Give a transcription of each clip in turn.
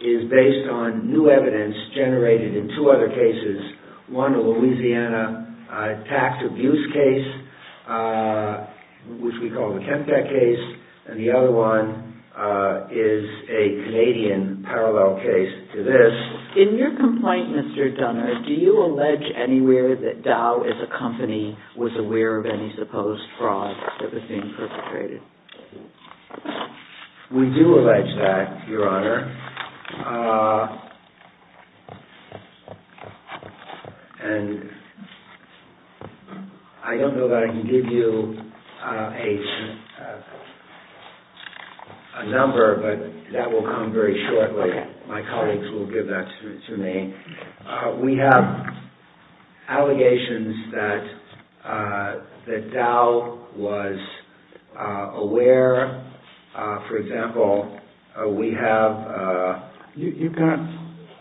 is based on new evidence generated in two other cases. One, a Louisiana tax abuse case, which we call the Kempec case, and the other one is a Canadian parallel case to this. In your complaint, Mr. Dunner, do you allege anywhere that Dow as a company was aware of any supposed fraud that was being perpetrated? We do allege that, Your Honor. And I don't know that I can give you a number, but that will come very shortly. My colleagues will give that to me. We have allegations that Dow was aware. For example, we have... You've got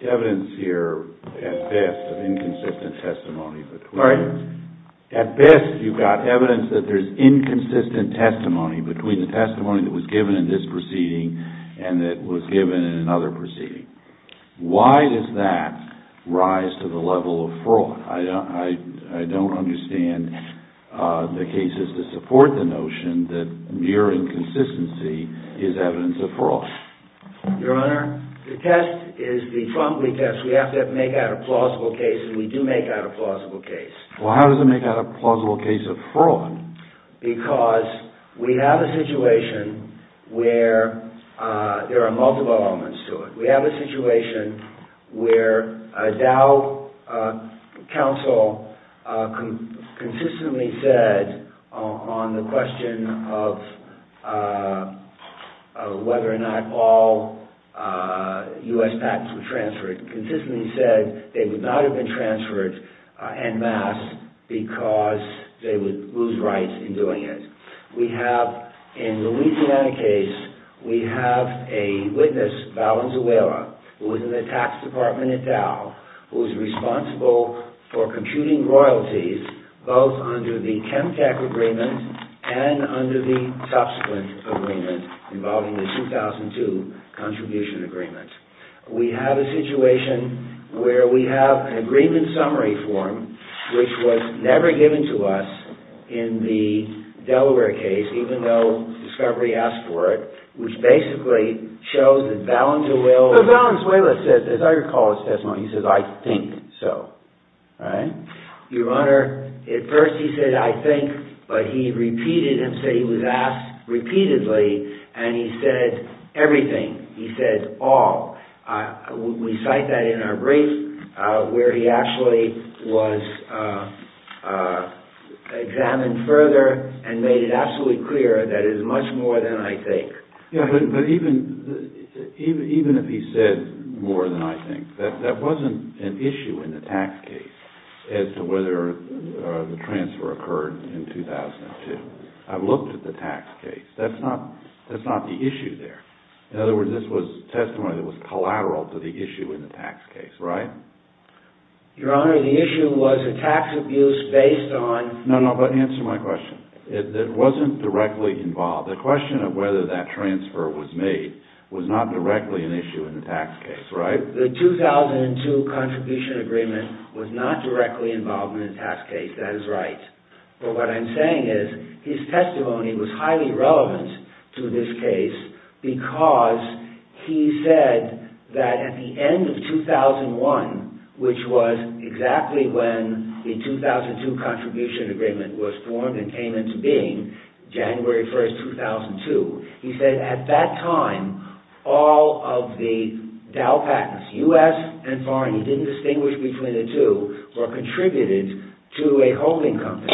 evidence here at best of inconsistent testimony. Pardon? At best, you've got evidence that there's inconsistent testimony between the testimony that was given in this proceeding and that was given in another proceeding. Why does that rise to the level of fraud? I don't understand the cases that support the notion that mere inconsistency is evidence of fraud. Your Honor, the test is the Trump leak test. We have to make out a plausible case, and we do make out a plausible case. Well, how does it make out a plausible case of fraud? Because we have a situation where there are multiple elements to it. We have a situation where a Dow counsel consistently said on the question of whether or not all U.S. patents were transferred, consistently said they would not have been transferred en masse because they would lose rights in doing it. We have, in the Louisiana case, we have a witness, Valenzuela, who was in the tax department at Dow, who was responsible for computing royalties both under the Chemtech agreement and under the subsequent agreement involving the 2002 contribution agreement. We have a situation where we have an agreement summary form, which was never given to us in the Delaware case, even though discovery asked for it, which basically shows that Valenzuela... But Valenzuela says, as I recall his testimony, he says, I think so. Right? Your Honor, at first he said, I think, but he repeated himself, he was asked repeatedly, and he said everything. He said all. We cite that in our brief, where he actually was examined further and made it absolutely clear that it is much more than I think. Yeah, but even if he said more than I think, that wasn't an issue in the tax case as to whether the transfer occurred in 2002. I've looked at the tax case. That's not the issue there. In other words, this was testimony that was collateral to the issue in the tax case. Right? Your Honor, the issue was a tax abuse based on... No, no, answer my question. It wasn't directly involved. The question of whether that transfer was made was not directly an issue in the tax case. Right? The 2002 contribution agreement was not directly involved in the tax case. That is right. But what I'm saying is, his testimony was highly relevant to this case because he said that at the end of 2001, which was exactly when the 2002 contribution agreement was formed and came into being, January 1st, 2002, he said at that time, all of the Dow patents, U.S. and foreign, he didn't distinguish between the two, were contributed to a holding company,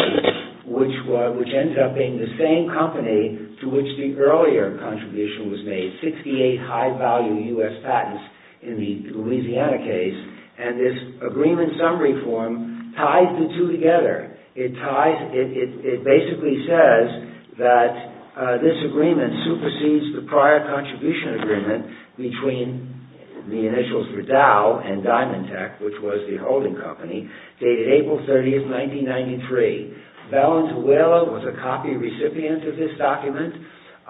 which ended up being the same company to which the earlier contribution was made, 68 high-value U.S. patents in the Louisiana case. And this agreement summary form ties the two together. It basically says that this agreement supersedes the prior contribution agreement between the initials for Dow and Diamond Tech, which was the holding company, dated April 30th, 1993. Valenzuela was a copy recipient of this document.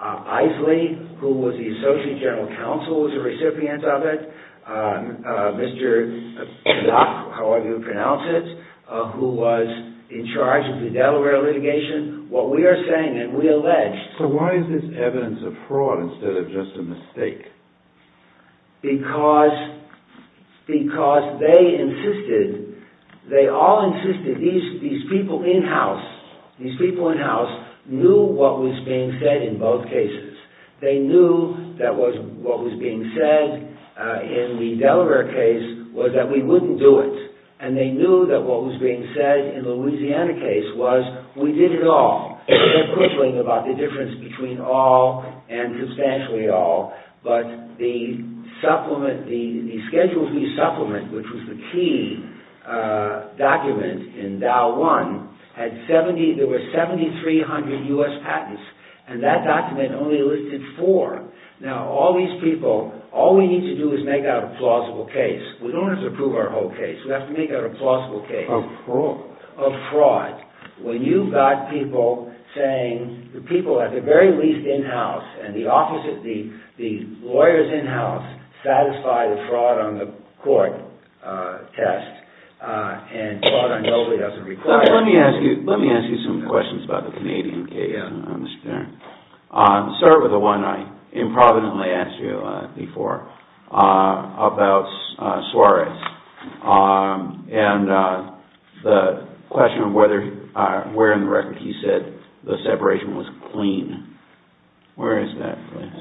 Isley, who was the associate general counsel, was a recipient of it. Mr. Dodd, however you pronounce it, who was in charge of the Delaware litigation. What we are saying, and we allege... Because they insisted, they all insisted, these people in-house knew what was being said in both cases. They knew that what was being said in the Delaware case was that we wouldn't do it, and they knew that what was being said in the Louisiana case was, we did it all. They're quibbling about the difference between all and substantially all, but the supplement, the Schedules B supplement, which was the key document in Dow One, had 70, there were 7,300 U.S. patents, and that document only listed four. Now, all these people, all we need to do is make out a plausible case. We don't have to prove our whole case. We have to make out a plausible case. Of fraud. Of fraud. When you've got people saying, the people at the very least in-house, and the lawyers in-house, satisfy the fraud on the court test, and fraud on nobody doesn't require it. Let me ask you some questions about the Canadian case, Mr. Tarrant. I'll start with the one I improvidently asked you before, about Suarez, and the question of where in the record he said the separation was clean. Where is that? Where he said it was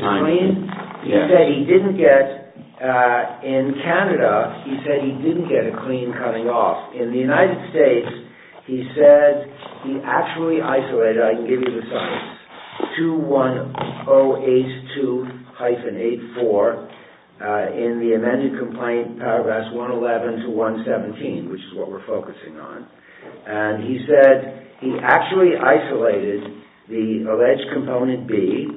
clean? He said he didn't get, in Canada, he said he didn't get a clean cutting off. In the United States, he said, he actually isolated, I can give you the size, 21082-84, in the amended complaint, paragraphs 111 to 117, which is what we're focusing on. And he said, he actually isolated the alleged component B,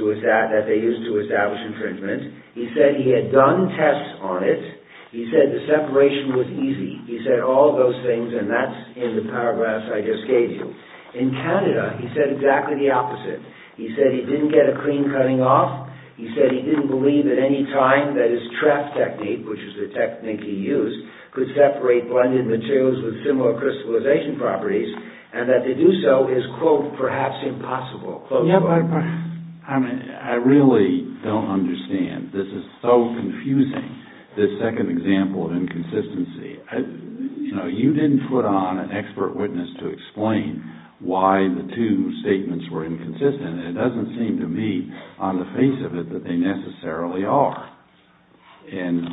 that they used to establish infringement. He said he had done tests on it. He said the separation was easy. He said all those things, and that's in the paragraphs I just gave you. In Canada, he said exactly the opposite. He said he didn't get a clean cutting off. He said he didn't believe at any time that his trap technique, which is the technique he used, could separate blended materials with similar crystallization properties, and that to do so is, quote, perhaps impossible. I really don't understand. This is so confusing, this second example of inconsistency. You know, you didn't put on an expert witness to explain why the two statements were inconsistent, and it doesn't seem to me, on the face of it, that they necessarily are. And,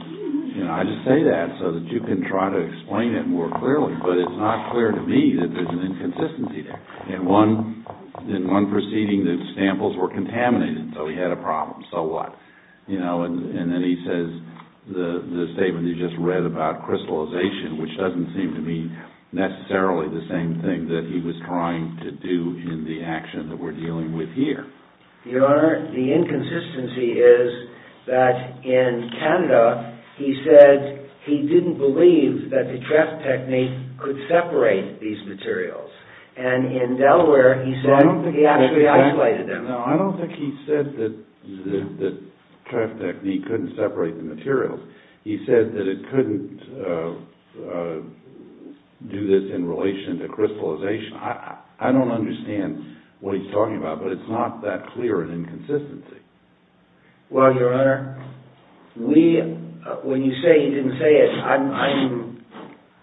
you know, I just say that so that you can try to explain it more clearly, but it's not clear to me that there's an inconsistency there. In one proceeding, the samples were contaminated, so he had a problem. So what? You know, and then he says the statement you just read about crystallization, which doesn't seem to be necessarily the same thing that he was trying to do in the action that we're dealing with here. Your Honor, the inconsistency is that in Canada, he said he didn't believe that the trap technique could separate these materials. And in Delaware, he said he actually isolated them. No, I don't think he said that the trap technique couldn't separate the materials. He said that it couldn't do this in relation to crystallization. I don't understand what he's talking about, but it's not that clear an inconsistency. Well, Your Honor, when you say he didn't say it,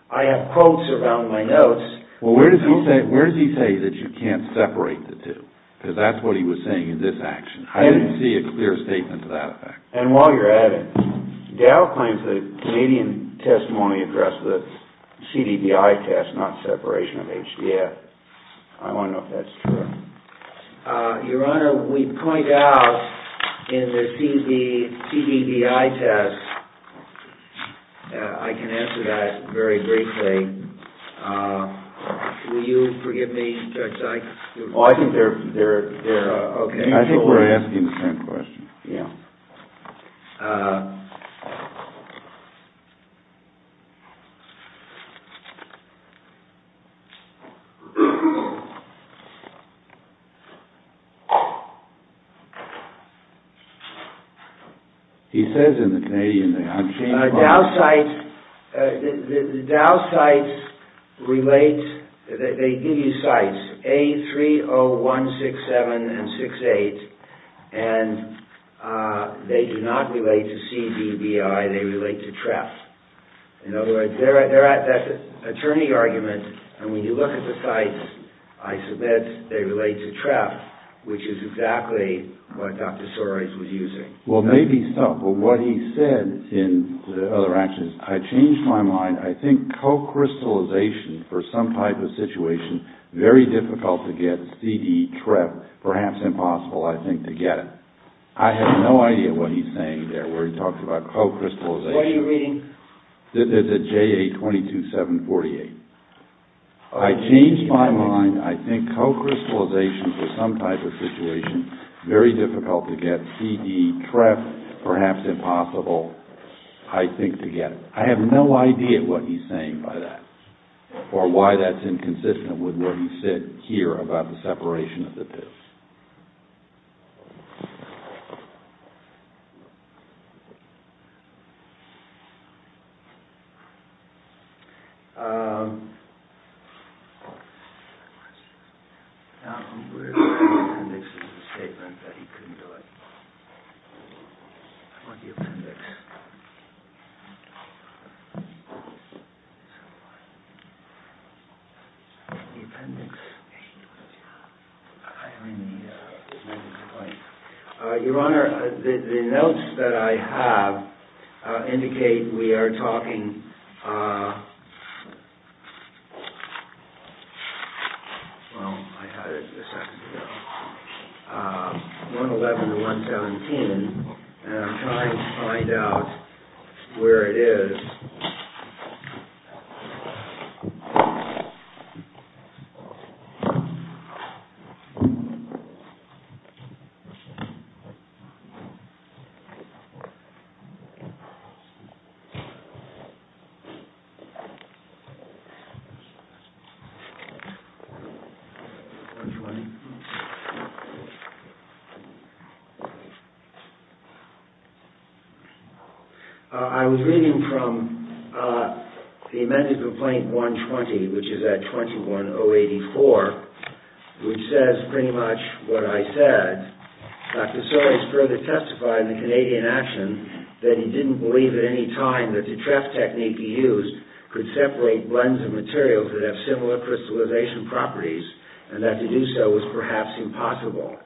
I have quotes around my notes. Well, where does he say that you can't separate the two? Because that's what he was saying in this action. I didn't see a clear statement to that effect. And while you're at it, Dow claims that Canadian testimony addressed the CDVI test, not separation of HDF. I want to know if that's true. Your Honor, we point out in the CDVI test, I can answer that very briefly. Will you forgive me, Judge Sykes? Oh, I think they're okay. I think we're asking the same question. Yeah. Uh... He says in the Canadian... The Dow cites relate, they give you cites, A30167 and 68, and they do not relate to CDVI, they relate to TREF. In other words, they're at that attorney argument, and when you look at the cites, I submit they relate to TREF, which is exactly what Dr. Soares was using. Well, maybe so. But what he said in the other actions, I changed my mind. I think co-crystallization for some type of situation, very difficult to get, CD, TREF, perhaps impossible, I think, to get it. I have no idea what he's saying there, where he talks about co-crystallization. What are you reading? There's a JA22748. I changed my mind. I think co-crystallization for some type of situation, very difficult to get, CD, TREF, perhaps impossible, I think, to get it. I have no idea what he's saying by that, or why that's inconsistent with what he said here about the separation of the pits. The appendix is a statement that he couldn't do it. I want the appendix. The appendix? Your Honor, the notes that I have indicate we are talking – well, I had it a second ago – 111 and 117, and I'm trying to find out where it is. I'm reading from the amended Complaint 120, which is at 21084, which says pretty much what I said. Dr. Sawyers further testified in the Canadian action that he didn't believe at any time that the TREF technique he used could separate blends of materials that have similar crystallization properties, and that to do so was perhaps impossible.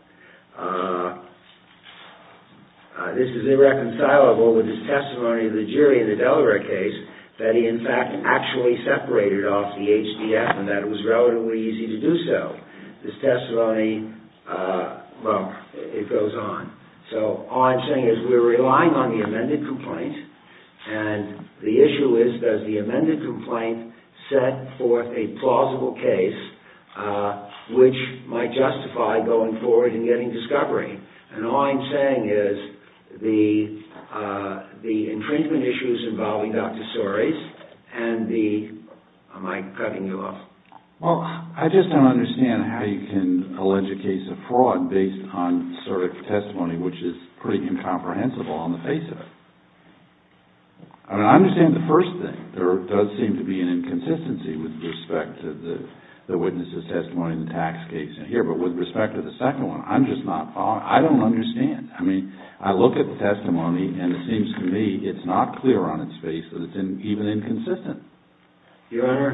This is irreconcilable with his testimony of the jury in the Delaware case that he, in fact, actually separated off the HDF and that it was relatively easy to do so. This testimony – well, it goes on. So, all I'm saying is we're relying on the amended complaint, and the issue is does the amended complaint set forth a plausible case which might justify going forward and getting discovery? And all I'm saying is the entrenchment issues involving Dr. Sawyers and the – am I cutting you off? Well, I just don't understand how you can allege a case of fraud based on sort of testimony which is pretty incomprehensible on the face of it. I mean, I understand the first thing. There does seem to be an inconsistency with respect to the witness' testimony in the tax case in here, but with respect to the second one, I'm just not following. I don't understand. I mean, I look at the testimony, and it seems to me it's not clear on its face that it's even inconsistent. Your Honor,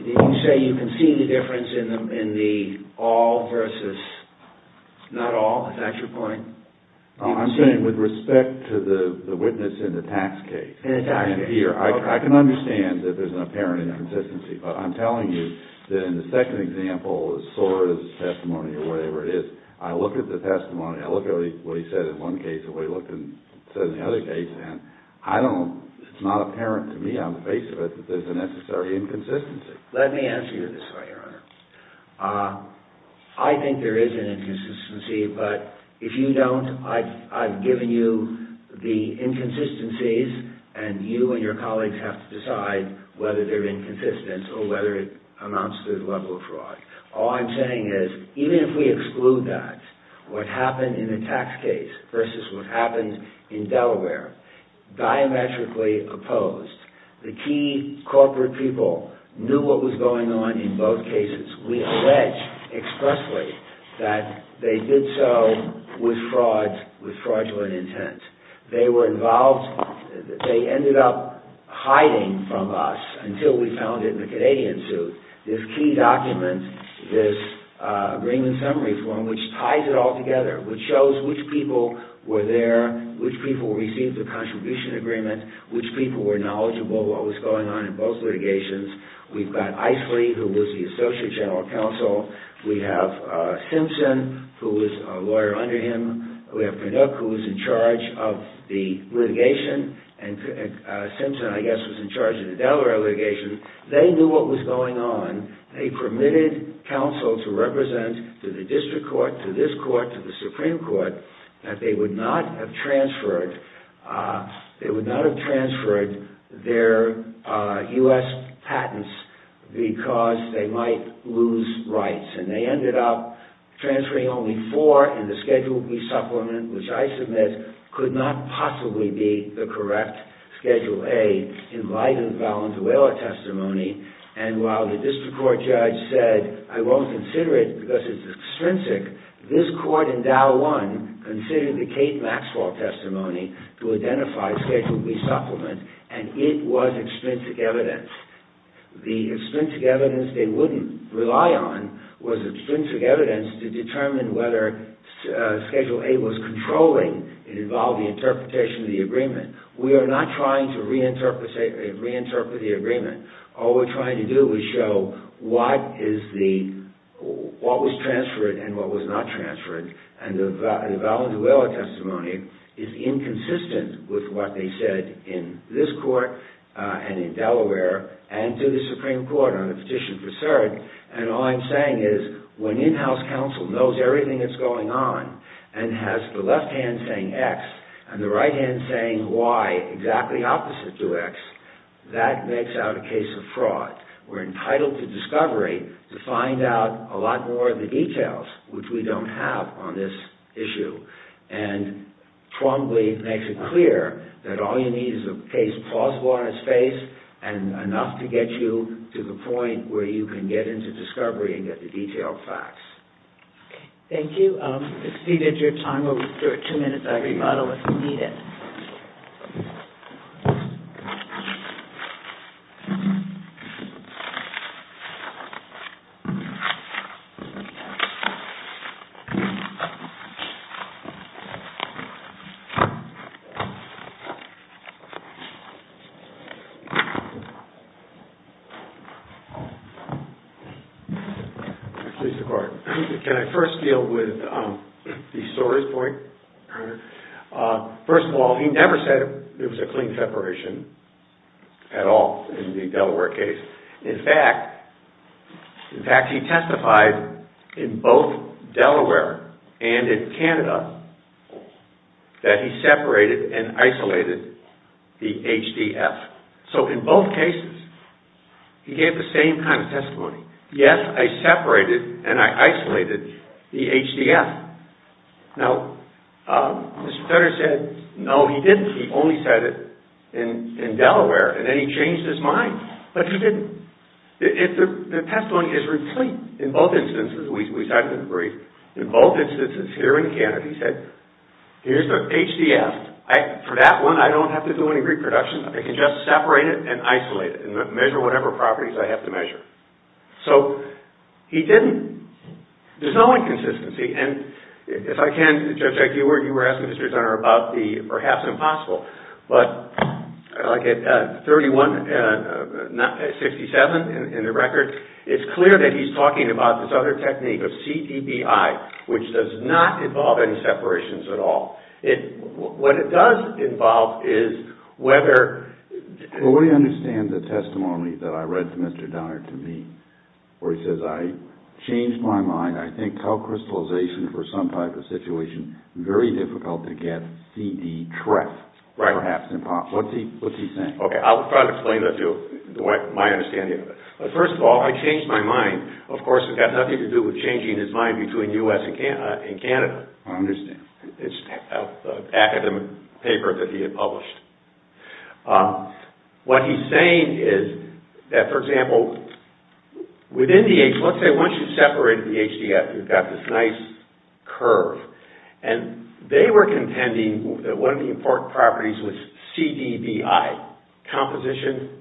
did you say you can see the difference in the all versus not all? Is that your point? I'm saying with respect to the witness in the tax case. In the tax case. I can understand that there's an apparent inconsistency, but I'm telling you that in the second example, the Sawyers testimony or whatever it is, I look at the testimony. I look at what he said in one case and what he said in the other case, and I don't – it's not apparent to me on the face of it that there's a necessary inconsistency. Let me answer you this way, Your Honor. I think there is an inconsistency, but if you don't, I've given you the inconsistencies, and you and your colleagues have to decide whether they're inconsistent or whether it amounts to the level of fraud. All I'm saying is, even if we exclude that, what happened in the tax case versus what happened in Delaware, diametrically opposed. The key corporate people knew what was going on in both cases. We allege expressly that they did so with fraud, with fraudulent intent. They were involved – they ended up hiding from us until we found it in the Canadian suit. This key document, this agreement summary form, which ties it all together, which shows which people were there, which people received the contribution agreement, which people were knowledgeable of what was going on in both litigations. We've got Isley, who was the associate general counsel. We have Simpson, who was a lawyer under him. We have Pinnock, who was in charge of the litigation, and Simpson, I guess, was in charge of the Delaware litigation. They knew what was going on. They permitted counsel to represent to the district court, to this court, to the Supreme Court, that they would not have transferred their U.S. patents because they might lose rights. And they ended up transferring only four in the Schedule B supplement, which I submit could not possibly be the correct Schedule A in light of the Valenzuela testimony. And while the district court judge said, I won't consider it because it's extrinsic, this court in Dow won considering the Kate Maxwell testimony to identify Schedule B supplement, and it was extrinsic evidence. The extrinsic evidence they wouldn't rely on was extrinsic evidence to determine whether Schedule A was controlling. It involved the interpretation of the agreement. We are not trying to reinterpret the agreement. All we're trying to do is show what was transferred and what was not transferred. And the Valenzuela testimony is inconsistent with what they said in this court and in Delaware and to the Supreme Court on the petition for cert. And all I'm saying is, when in-house counsel knows everything that's going on and has the left hand saying X and the right hand saying Y exactly opposite to X, that makes out a case of fraud. We're entitled to discovery to find out a lot more of the details, which we don't have on this issue. And Trombley makes it clear that all you need is a case plausible on its face and enough to get you to the point where you can get into discovery and get the detailed facts. Thank you. If you needed your time, we'll restore it two minutes after you bottle it if you need it. Please record. Can I first deal with the story's point? First of all, he never said it was a clean separation at all in the Delaware case. In fact, he testified in both Delaware and in Canada that he separated and isolated the HDF. So, in both cases, he gave the same kind of testimony. Yes, I separated and I isolated the HDF. Now, Mr. Turner said no, he didn't. He only said it in Delaware and then he changed his mind. But he didn't. The testimony is complete in both instances. We cited it in brief. In both instances, here in Canada, he said, here's the HDF. For that one, I don't have to do any reproduction. I can just separate it and isolate it and measure whatever properties I have to measure. So, he didn't. There's no inconsistency. If I can, Judge, you were asking Mr. Turner about the perhaps impossible. But, like at 31, not at 67 in the record, it's clear that he's talking about this other technique of CDBI, which does not involve any separations at all. What it does involve is whether- Well, we understand the testimony that I read from Mr. Donner to me where he says, I changed my mind. I think co-crystallization for some type of situation, very difficult to get CD-TREF, perhaps impossible. What's he saying? Okay, I'll try to explain that to you, my understanding of it. First of all, I changed my mind. Of course, it's got nothing to do with changing his mind between U.S. and Canada. I understand. It's an academic paper that he had published. What he's saying is that, for example, within the H- Let's say once you've separated the HDF, you've got this nice curve. And they were contending that one of the important properties was CDBI, composition,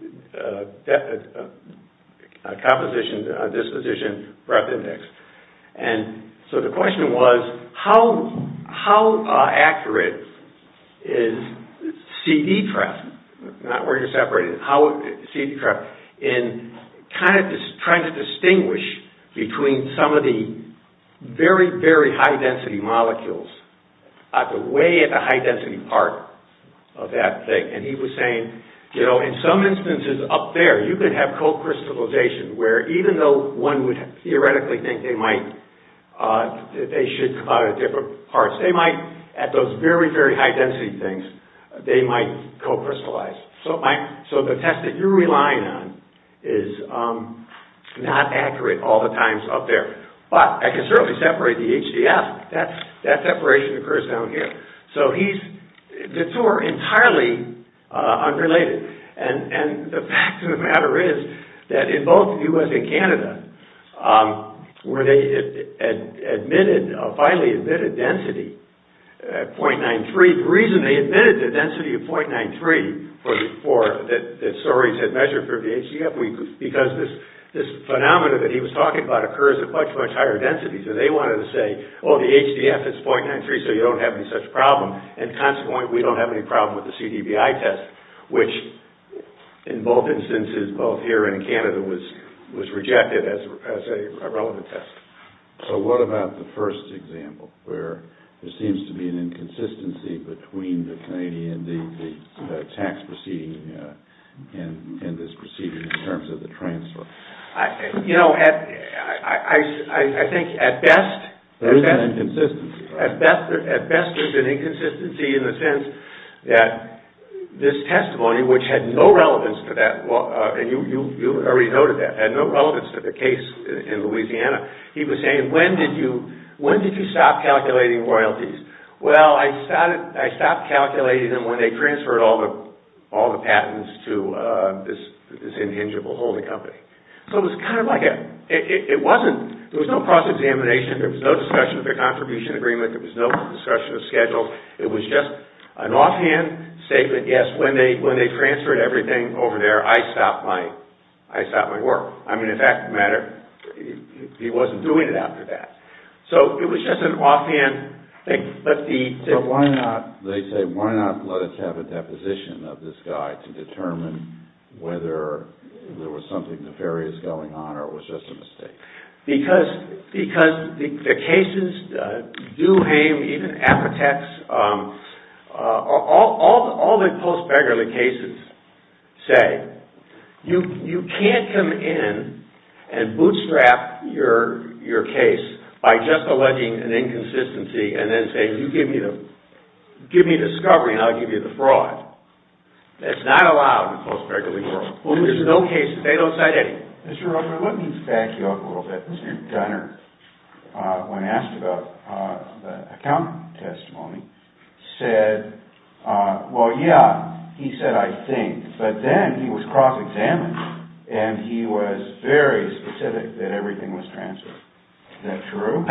disposition, breadth index. So the question was, how accurate is CD-TREF? Not where you're separating it. CD-TREF in trying to distinguish between some of the very, very high-density molecules at the way at the high-density part of that thing. And he was saying, in some instances up there, you could have co-crystallization where even though one would theoretically think they should come out of different parts, they might, at those very, very high-density things, they might co-crystallize. So the test that you're relying on is not accurate all the times up there. But I can certainly separate the HDF. That separation occurs down here. So the two are entirely unrelated. And the fact of the matter is that in both the U.S. and Canada, where they admitted, finally admitted density at 0.93, the reason they admitted the density of 0.93 that Soares had measured for the HDF, because this phenomenon that he was talking about occurs at much, much higher densities. So they wanted to say, oh, the HDF is 0.93, so you don't have any such problem. And consequently, we don't have any problem with the CDBI test, which in both instances, both here and in Canada, was rejected as a relevant test. So what about the first example, where there seems to be an inconsistency between the Canadian tax proceeding and this proceeding in terms of the transfer? You know, I think at best... There is an inconsistency. At best, there's an inconsistency in the sense that this testimony, which had no relevance to that, and you already noted that, had no relevance to the case in Louisiana. He was saying, when did you stop calculating royalties? Well, I stopped calculating them when they transferred all the patents to this intangible holding company. So it was kind of like a... There was no discussion of schedule. It was just an offhand statement. Yes, when they transferred everything over there, I stopped my work. I mean, if that mattered, he wasn't doing it after that. So it was just an offhand thing. But why not, they say, why not let us have a deposition of this guy to determine whether there was something nefarious going on or it was just a mistake? Because the cases, Duhame, even Apotex, all the post-Fegarly cases say, you can't come in and bootstrap your case by just alleging an inconsistency and then say, you give me the discovery and I'll give you the fraud. That's not allowed in the post-Fegarly world. There's no case, they don't cite any. Mr. Rosenberg, let me back you up a little bit. Mr. Gunner, when asked about the account testimony, said, well, yeah, he said, I think. But then he was cross-examined and he was very specific that everything was transferred. Is that true?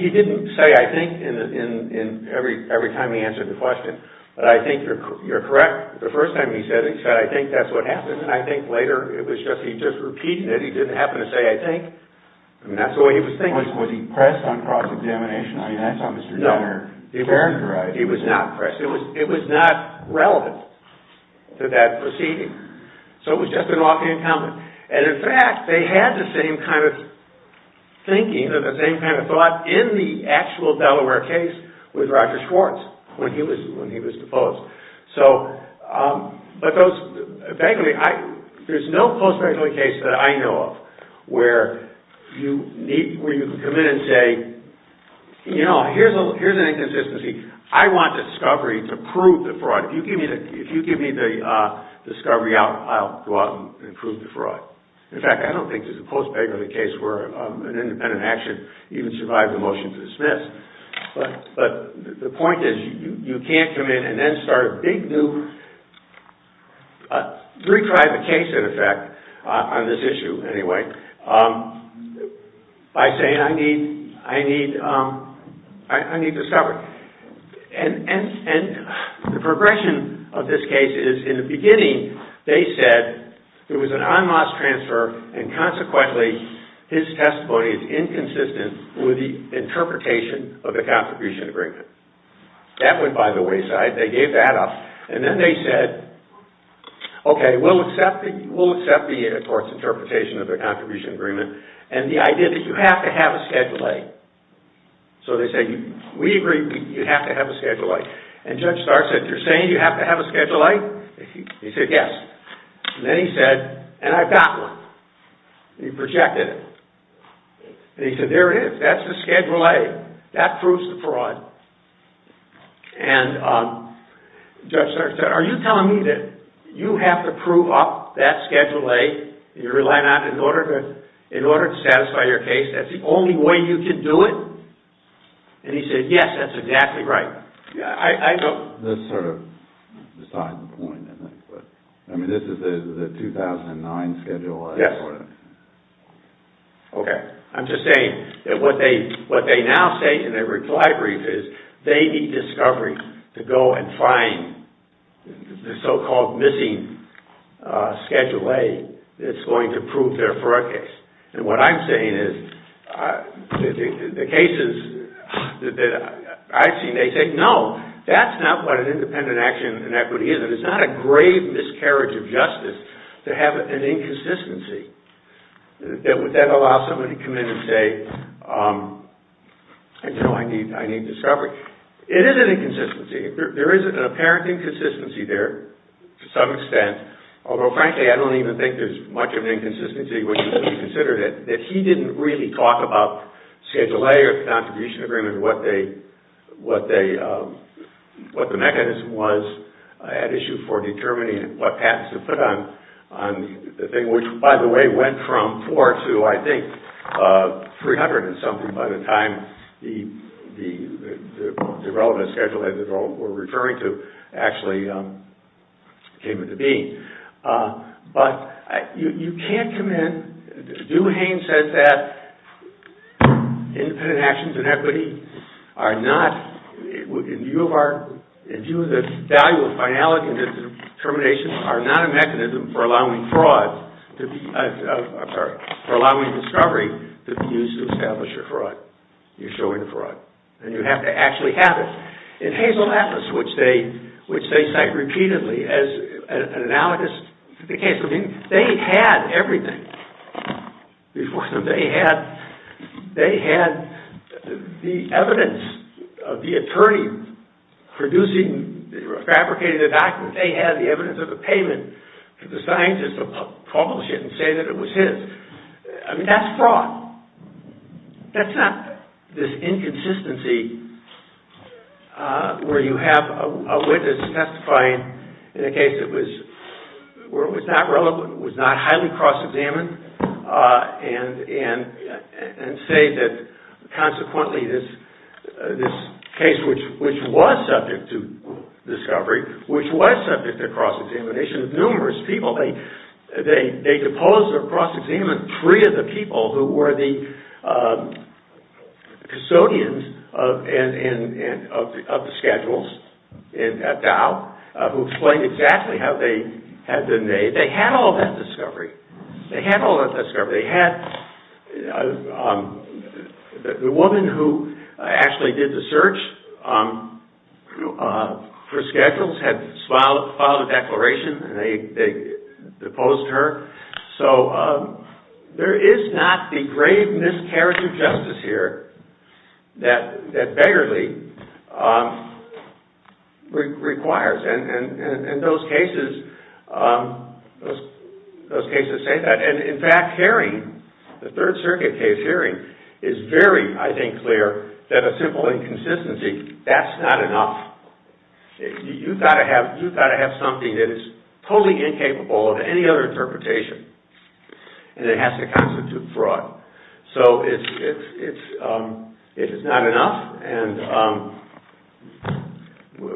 He didn't say, I think, every time he answered the question. But I think you're correct. The first time he said it, he said, I think that's what happened. I think later he just repeated it. He didn't happen to say, I think. That's the way he was thinking. Was he pressed on cross-examination? I mean, that's how Mr. Gunner characterized it. No, he was not pressed. It was not relevant to that proceeding. So it was just an offhand comment. And, in fact, they had the same kind of thinking and the same kind of thought in the actual Delaware case with Roger Schwartz when he was deposed. But there's no post-Bakerly case that I know of where you can come in and say, you know, here's an inconsistency. I want discovery to prove the fraud. If you give me the discovery, I'll go out and prove the fraud. In fact, I don't think there's a post-Bakerly case where an independent action even survives a motion to dismiss. But the point is, you can't come in and then start a big new, retry the case, in effect, on this issue, anyway, by saying I need discovery. And the progression of this case is, in the beginning, they said there was an en masse transfer and, consequently, his testimony is inconsistent with the interpretation of the contribution agreement. That went by the wayside. They gave that up. And then they said, okay, we'll accept the, of course, interpretation of the contribution agreement and the idea that you have to have a Schedule A. So they said, we agree you have to have a Schedule A. And Judge Starr said, you're saying you have to have a Schedule A? He said, yes. And then he said, and I've got one. He projected it. And he said, there it is. That's the Schedule A. That proves the fraud. And Judge Starr said, are you telling me that you have to prove up that Schedule A that you're relying on in order to satisfy your case? That's the only way you can do it? And he said, yes, that's exactly right. This sort of decides the point, I think. I mean, this is the 2009 Schedule A. Yes. Okay. I'm just saying that what they now say in their reply brief is they need discovery to go and find the so-called missing Schedule A that's going to prove their fraud case. And what I'm saying is the cases that I've seen, they say, no, that's not what an independent action in equity is. It's not a grave miscarriage of justice to have an inconsistency. Would that allow somebody to come in and say, no, I need discovery? It is an inconsistency. There is an apparent inconsistency there to some extent, although, frankly, I don't even think there's much of an inconsistency when you consider that he didn't really talk about Schedule A or the contribution agreement or what the mechanism was at issue for determining what patents to put on the thing, which, by the way, went from four to, I think, 300 and something by the time the relevant Schedule A that we're referring to actually came into being. But you can't come in. Doohane says that independent actions in equity are not, in view of the value of finality and determination, are not a mechanism for allowing discovery to be used to establish a fraud. You're showing a fraud. And you have to actually have it. In Hazel Atlas, which they cite repeatedly as an analogous to the case, I mean, they had everything before them. They had the evidence of the attorney producing or fabricating the document. They had the evidence of the payment for the scientist to publish it and say that it was his. I mean, that's fraud. That's not this inconsistency where you have a witness testifying in a case that was not highly cross-examined and say that, consequently, this case which was subject to discovery, which was subject to cross-examination of numerous people, they deposed or cross-examined three of the people who were the custodians of the schedules at Dow who explained exactly how they had been made. They had all that discovery. They had all that discovery. The woman who actually did the search for schedules had filed a declaration and they deposed her. So there is not the grave miscarriage of justice here that Begerle requires. And those cases say that. And, in fact, Haring, the Third Circuit case Haring, is very, I think, clear that a simple inconsistency, that's not enough. You've got to have something that is totally incapable of any other interpretation and it has to constitute fraud. So it is not enough and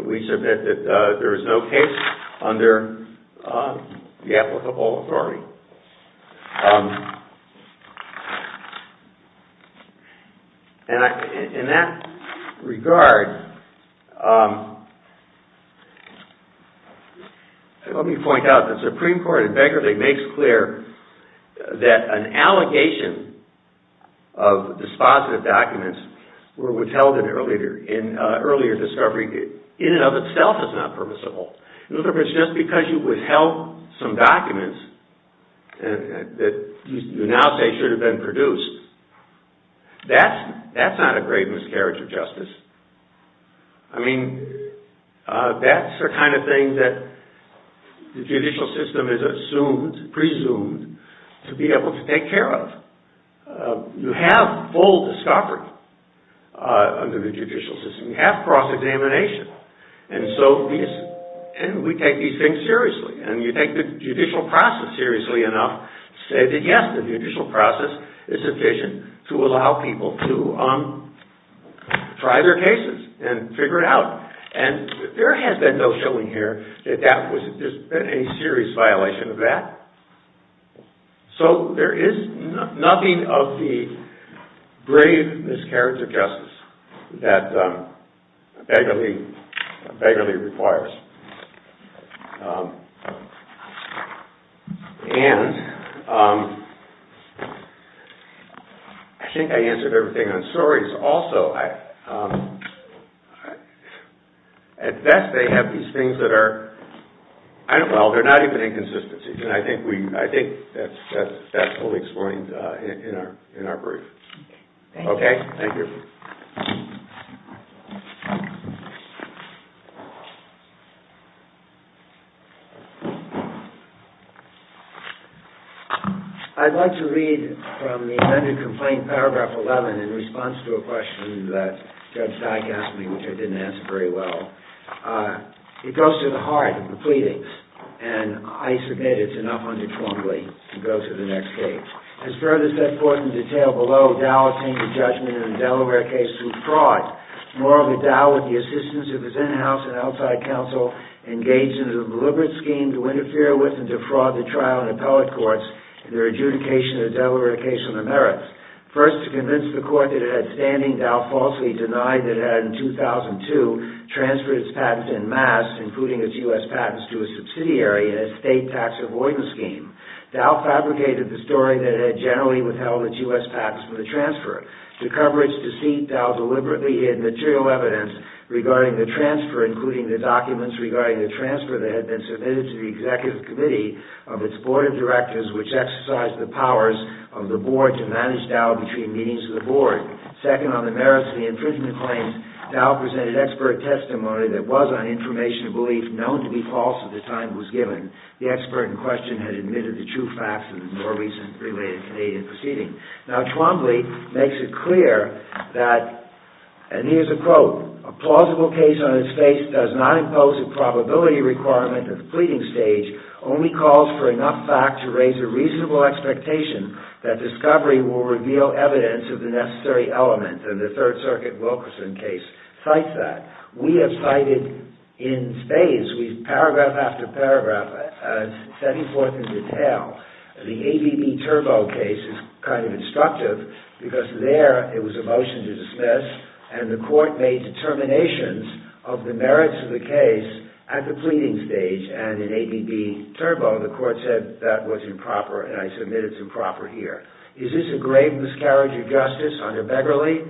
we submit that there is no case under the applicable authority. In that regard, let me point out that the Supreme Court in Begerle makes clear that an allegation of dispositive documents were withheld in earlier discovery in and of itself is not permissible. In other words, just because you withheld some documents that you now say should have been produced, that's not a grave miscarriage of justice. I mean, that's the kind of thing that the judicial system is assumed, presumed to be able to take care of. You have full discovery under the judicial system. You have cross-examination. And we take these things seriously. And you take the judicial process seriously enough to say that, yes, the judicial process is sufficient to allow people to try their cases and figure it out. And there has been no showing here that there's been any serious violation of that. So there is nothing of the grave miscarriage of justice that Begerle requires. And I think I answered everything on stories. Also, at best they have these things that are, well, they're not even inconsistencies. And I think that's fully explained in our brief. Okay. Thank you. I'd like to read from the amended complaint, paragraph 11, in response to a question that Judge Dyck asked me, which I didn't answer very well. It goes to the heart of the pleadings. And I submit it's enough under Twombly to go to the next page. As further set forth in detail below, Dow attained a judgment in the Delaware case through fraud. Morally, Dow, with the assistance of his in-house and outside counsel, engaged in a deliberate scheme to interfere with and defraud the trial and appellate courts in their adjudication of the Delaware case on the merits. First, to convince the court that it had standing, Dow falsely denied that it had in 2002 transferred its patents en masse, including its U.S. patents, to a subsidiary in a state tax avoidance scheme. Dow fabricated the story that it had generally withheld its U.S. patents for the transfer. To cover its deceit, Dow deliberately hid material evidence regarding the transfer, including the documents regarding the transfer that had been submitted to the executive committee of its board of directors, which exercised the powers of the board to manage Dow between meetings of the board. Second, on the merits of the infringement claims, Dow presented expert testimony that was, on information of belief, known to be false at the time it was given. The expert in question had admitted the true facts of the more recent related Canadian proceeding. Now, Twombly makes it clear that, and here's a quote, a plausible case on its face does not impose a probability requirement at the pleading stage, only calls for enough fact to raise a reasonable expectation that discovery will reveal evidence of the necessary element, and the Third Circuit Wilkerson case cites that. We have cited, in spades, paragraph after paragraph, setting forth in detail the ABB Turbo case is kind of instructive, because there it was a motion to dismiss, and the court made determinations of the merits of the case at the pleading stage, and in ABB Turbo the court said that was improper, and I submit it's improper here. Is this a grave miscarriage of justice under Beverly?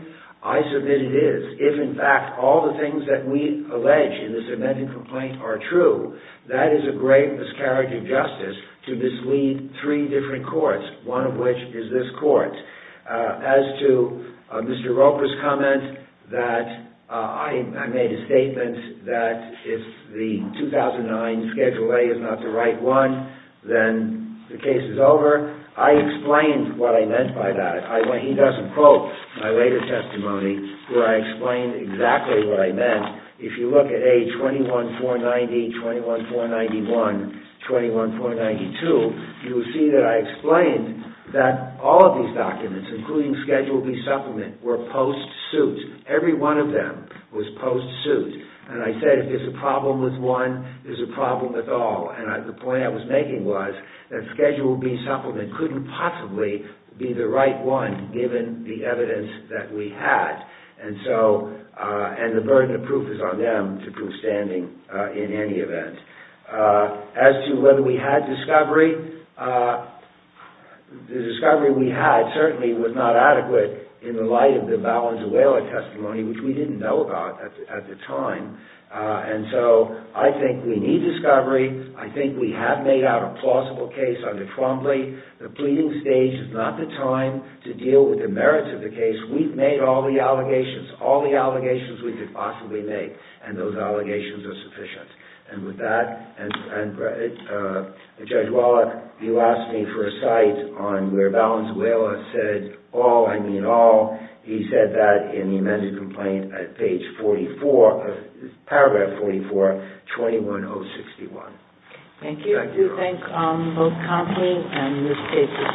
I submit it is. If, in fact, all the things that we allege in the cemented complaint are true, that is a grave miscarriage of justice to mislead three different courts, one of which is this court. As to Mr. Roper's comment that I made a statement that if the 2009 Schedule A is not the right one, then the case is over, I explained what I meant by that. He doesn't quote my later testimony where I explained exactly what I meant. If you look at A21-490, 21-491, 21-492, you will see that I explained that all of these documents, including Schedule B supplement, were post-suit. Every one of them was post-suit, and I said if there's a problem with one, there's a problem with all, and the point I was making was that Schedule B supplement couldn't possibly be the right one, given the evidence that we had, and the burden of proof is on them to prove standing in any event. As to whether we had discovery, the discovery we had certainly was not adequate in the light of the Valenzuela testimony, which we didn't know about at the time, and so I think we need discovery. I think we have made out a plausible case under Cromley. The pleading stage is not the time to deal with the merits of the case. We've made all the allegations, all the allegations we could possibly make, and those allegations are sufficient. And with that, Judge Wallach, you asked me for a cite on where Valenzuela said, He said that in the amended complaint at page 44, paragraph 44, 21061. Thank you. I do thank both Cromley and Ms. Casey.